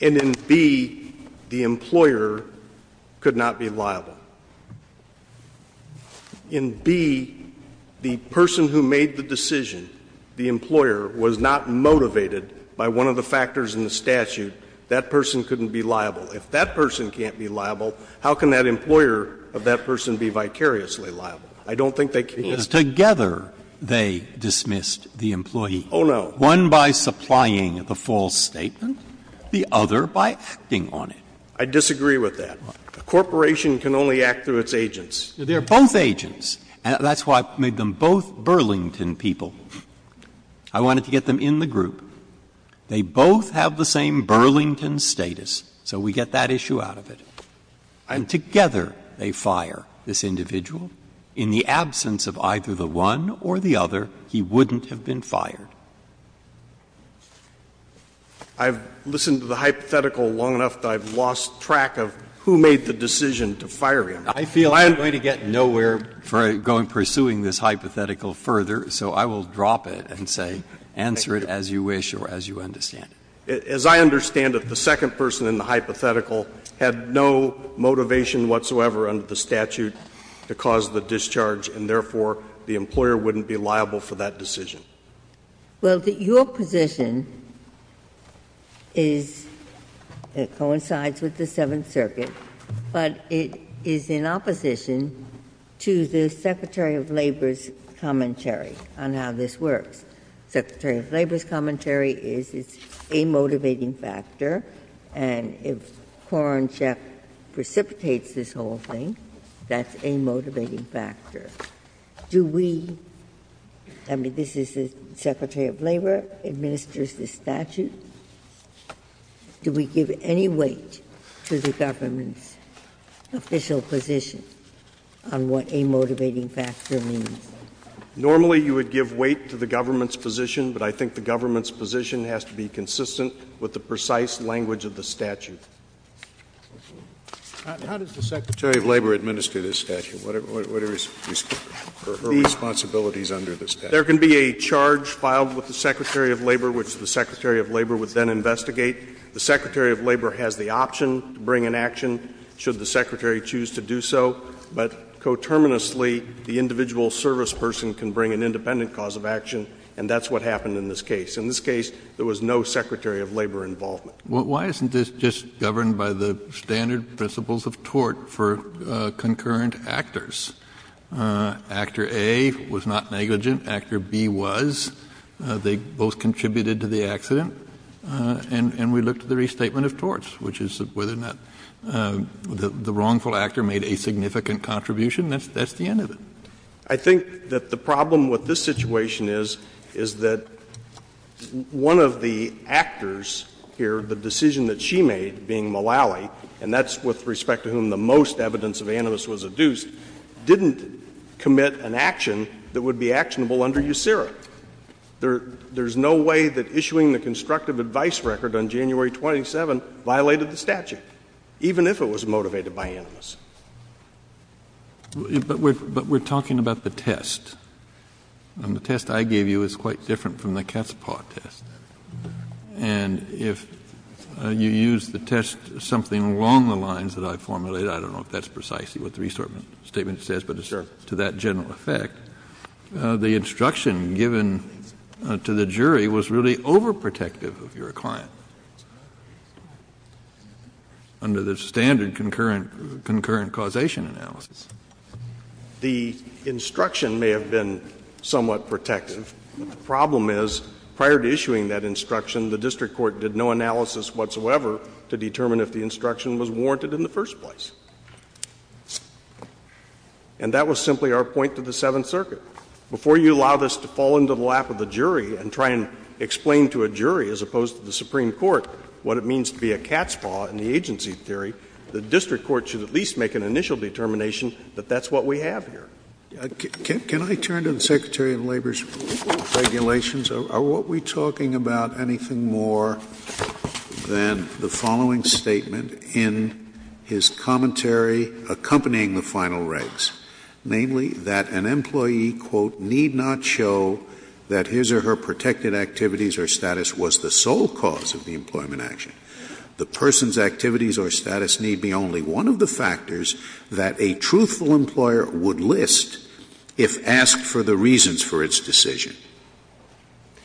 And in B, the employer could not be liable. In B, the person who made the decision, the employer, was not motivated by one of the If that person can't be liable, how can that employer of that person be vicariously liable? I don't think they can. Breyer. Because together they dismissed the employee. Oh, no. One by supplying the false statement, the other by acting on it. I disagree with that. A corporation can only act through its agents. They're both agents. That's why I made them both Burlington people. I wanted to get them in the group. They both have the same Burlington status. So we get that issue out of it. And together they fire this individual. In the absence of either the one or the other, he wouldn't have been fired. I've listened to the hypothetical long enough that I've lost track of who made the decision to fire him. I feel I'm going to get nowhere pursuing this hypothetical further, so I will drop it and say answer it as you wish or as you understand it. As I understand it, the second person in the hypothetical had no motivation whatsoever under the statute to cause the discharge, and therefore the employer wouldn't be liable for that decision. Well, your position is it coincides with the Seventh Circuit, but it is in opposition to the Secretary of Labor's commentary on how this works. Secretary of Labor's commentary is it's a motivating factor, and if Kornchek precipitates this whole thing, that's a motivating factor. Do we, I mean, this is the Secretary of Labor administers the statute. Do we give any weight to the government's official position on what a motivating factor means? Normally, you would give weight to the government's position, but I think the government's position has to be consistent with the precise language of the statute. How does the Secretary of Labor administer this statute? What are her responsibilities under this statute? There can be a charge filed with the Secretary of Labor, which the Secretary of Labor would then investigate. The Secretary of Labor has the option to bring an action should the Secretary choose to do so, but coterminously, the individual service person can bring an independent cause of action, and that's what happened in this case. In this case, there was no Secretary of Labor involvement. Well, why isn't this just governed by the standard principles of tort for concurrent actors? Actor A was not negligent. Actor B was. They both contributed to the accident. And we looked at the restatement of torts, which is whether or not the wrongful actor made a significant contribution. That's the end of it. I think that the problem with this situation is, is that one of the actors here, the decision that she made, being Mullally, and that's with respect to whom the most evidence of animus was adduced, didn't commit an action that would be actionable under USERA. There's no way that issuing the constructive advice record on January 27 violated the statute, even if it was motivated by animus. But we're talking about the test. And the test I gave you is quite different from the cat's paw test. And if you use the test something along the lines that I formulated, I don't know if that's precisely what the restatement statement says, but it's to that general effect. The instruction given to the jury was really overprotective of your client. Under the standard concurrent, concurrent causation analysis. The instruction may have been somewhat protective. The problem is, prior to issuing that instruction, the district court did no analysis whatsoever to determine if the instruction was warranted in the first place. And that was simply our point to the Seventh Circuit. Before you allow this to fall into the lap of the jury and try and explain to a jury, as opposed to the Supreme Court, what it means to be a cat's paw in the agency theory, the district court should at least make an initial determination that that's what we have here. Scalia. Can I turn to the Secretary of Labor's regulations? Are we talking about anything more than the following statement in his commentary accompanying the final regs, namely that an employee, quote, need not show that his or her protected activities or status was the sole cause of the employment action. The person's activities or status need be only one of the factors that a truthful employer would list if asked for the reasons for its decision.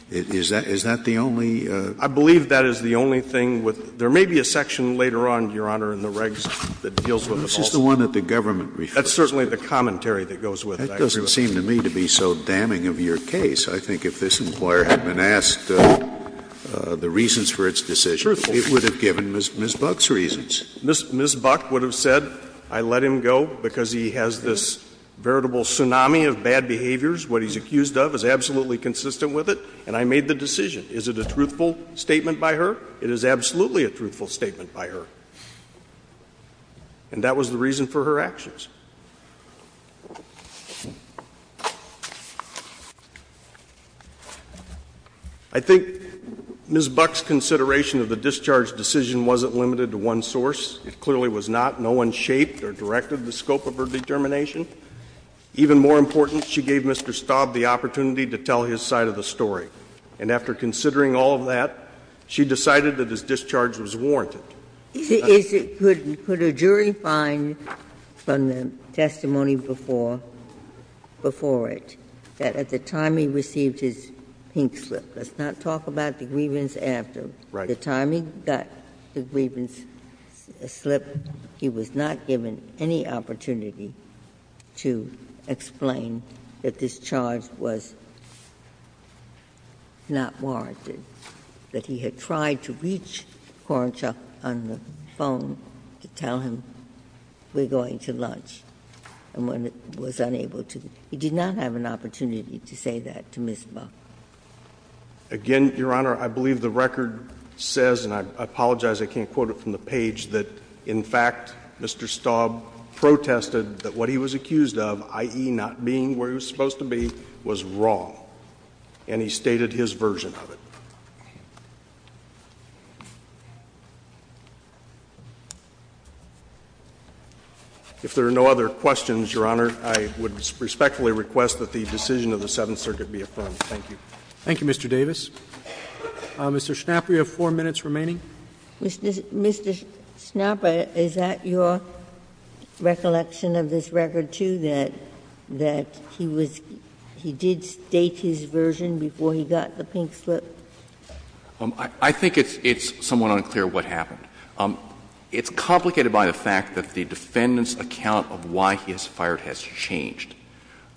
Is that the only? I believe that is the only thing with — there may be a section later on, Your Honor, in the regs that deals with it also. That's just the one that the government refers to. That's certainly the commentary that goes with it. That doesn't seem to me to be so damning of your case. I think if this employer had been asked the reasons for its decision, it would have given Ms. Buck's reasons. Ms. Buck would have said I let him go because he has this veritable tsunami of bad behaviors. What he's accused of is absolutely consistent with it, and I made the decision. Is it a truthful statement by her? It is absolutely a truthful statement by her. And that was the reason for her actions. I think Ms. Buck's consideration of the discharge decision wasn't limited to one source. It clearly was not. No one shaped or directed the scope of her determination. Even more important, she gave Mr. Staub the opportunity to tell his side of the story. And after considering all of that, she decided that his discharge was warranted. Ginsburg's testimony before it, that at the time he received his pink slip, let's not talk about the grievance after. The time he got the grievance slip, he was not given any opportunity to explain that discharge was not warranted, that he had tried to reach Korenchuk on the phone to tell him we're going to lunch. And when he was unable to, he did not have an opportunity to say that to Ms. Buck. Again, Your Honor, I believe the record says, and I apologize, I can't quote it from the page, that in fact, Mr. Staub protested that what he was accused of, i.e., not being where he was supposed to be, was wrong, and he stated his version of it. If there are no other questions, Your Honor, I would respectfully request that the decision of the Seventh Circuit be affirmed. Thank you. Thank you, Mr. Davis. Mr. Schnapper, you have four minutes remaining. Mr. Schnapper, is that your recollection of this record, too, that he did state his grievance slip? I think it's somewhat unclear what happened. It's complicated by the fact that the defendant's account of why he was fired has changed.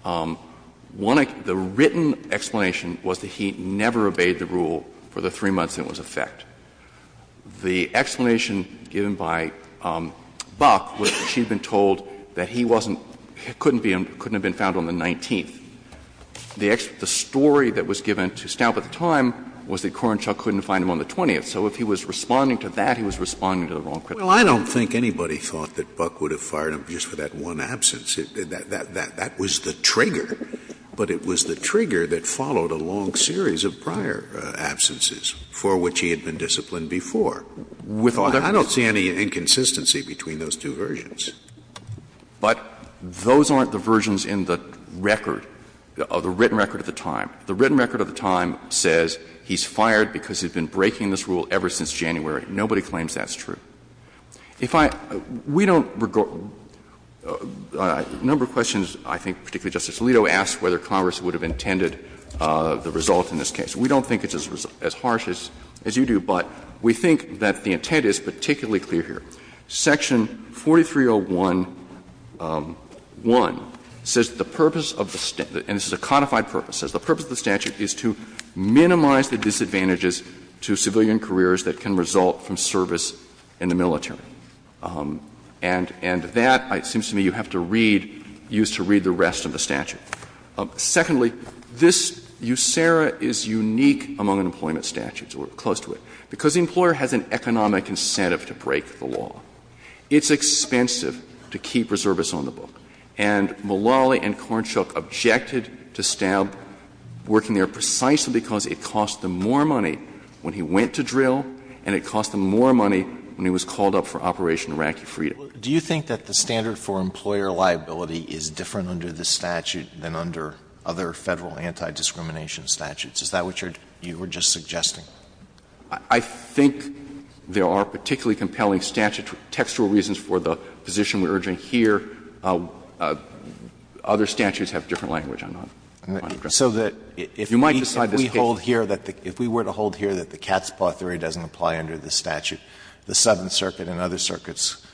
One, the written explanation was that he never obeyed the rule for the three months it was in effect. The explanation given by Buck was that she had been told that he wasn't, couldn't have been found on the 19th. The story that was given to Staub at the time was that Corenshaw couldn't find him on the 20th. So if he was responding to that, he was responding to the wrong criticism. Well, I don't think anybody thought that Buck would have fired him just for that one absence. That was the trigger, but it was the trigger that followed a long series of prior absences for which he had been disciplined before. I don't see any inconsistency between those two versions. But those aren't the versions in the record, the written record at the time. The written record at the time says he's fired because he's been breaking this rule ever since January. Nobody claims that's true. If I — we don't regard — a number of questions, I think, particularly Justice Alito, asked whether Congress would have intended the result in this case. We don't think it's as harsh as you do, but we think that the intent is particularly clear here. Section 4301-1 says the purpose of the — and this is a codified purpose, says the purpose of the statute is to minimize the disadvantages to civilian careers that can result from service in the military. And that, it seems to me, you have to read, use to read the rest of the statute. Secondly, this USERRA is unique among employment statutes, or close to it, because the employer has an economic incentive to break the law. It's expensive to keep reservists on the book. And Mullally and Cornshuk objected to Staub working there precisely because it cost them more money when he went to drill and it cost them more money when he was called up for Operation Iraqi Freedom. Alito, do you think that the standard for employer liability is different under this statute than under other Federal anti-discrimination statutes? Is that what you're — you were just suggesting? I think there are particularly compelling statute — textual reasons for the position we're urging here. Other statutes have different language. I'm not — I'm not addressing. You might decide this case. So that if we hold here that the — if we were to hold here that the cat's paw theory doesn't apply under this statute, the Seventh Circuit and other circuits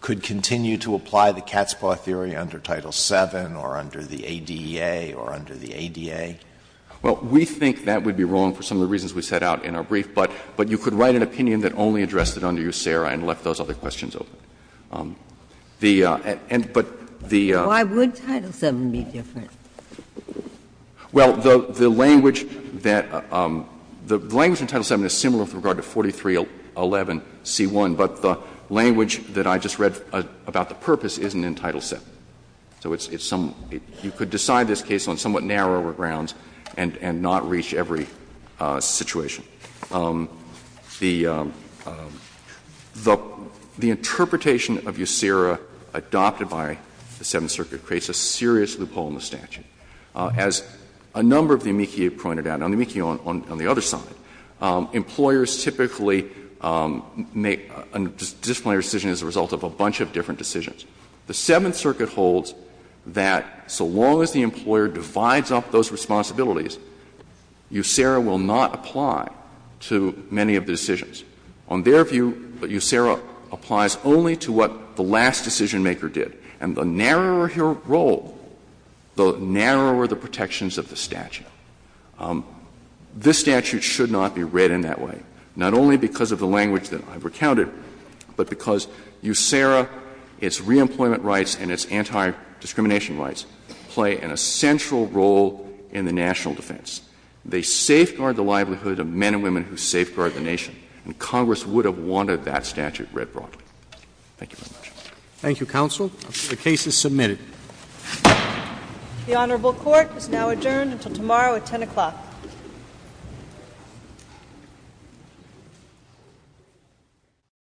could continue to apply the cat's paw theory under Title VII or under the ADA or under the ADA? Well, we think that would be wrong for some of the reasons we set out in our brief. But you could write an opinion that only addressed it under USERRA and left those other questions open. The — but the — Why would Title VII be different? Well, the language that — the language in Title VII is similar with regard to 4311 c. 1, but the language that I just read about the purpose isn't in Title VII. So it's some — you could decide this case on somewhat narrower grounds and not reach every situation. The — the interpretation of USERRA adopted by the Seventh Circuit creates a serious loophole in the statute. As a number of the amici have pointed out, and on the amici on the other side, employers typically make a disciplinary decision as a result of a bunch of different decisions. The Seventh Circuit holds that so long as the employer divides up those responsibilities, USERRA will not apply to many of the decisions. On their view, USERRA applies only to what the last decisionmaker did. And the narrower your role, the narrower the protections of the statute. This statute should not be read in that way, not only because of the language that I've recounted, but because USERRA, its re-employment rights, and its anti-discrimination rights play an essential role in the national defense. They safeguard the livelihood of men and women who safeguard the nation. And Congress would have wanted that statute read broadly. Thank you very much. Thank you, counsel. The case is submitted. The Honorable Court is now adjourned until tomorrow at 10 o'clock. Thank you.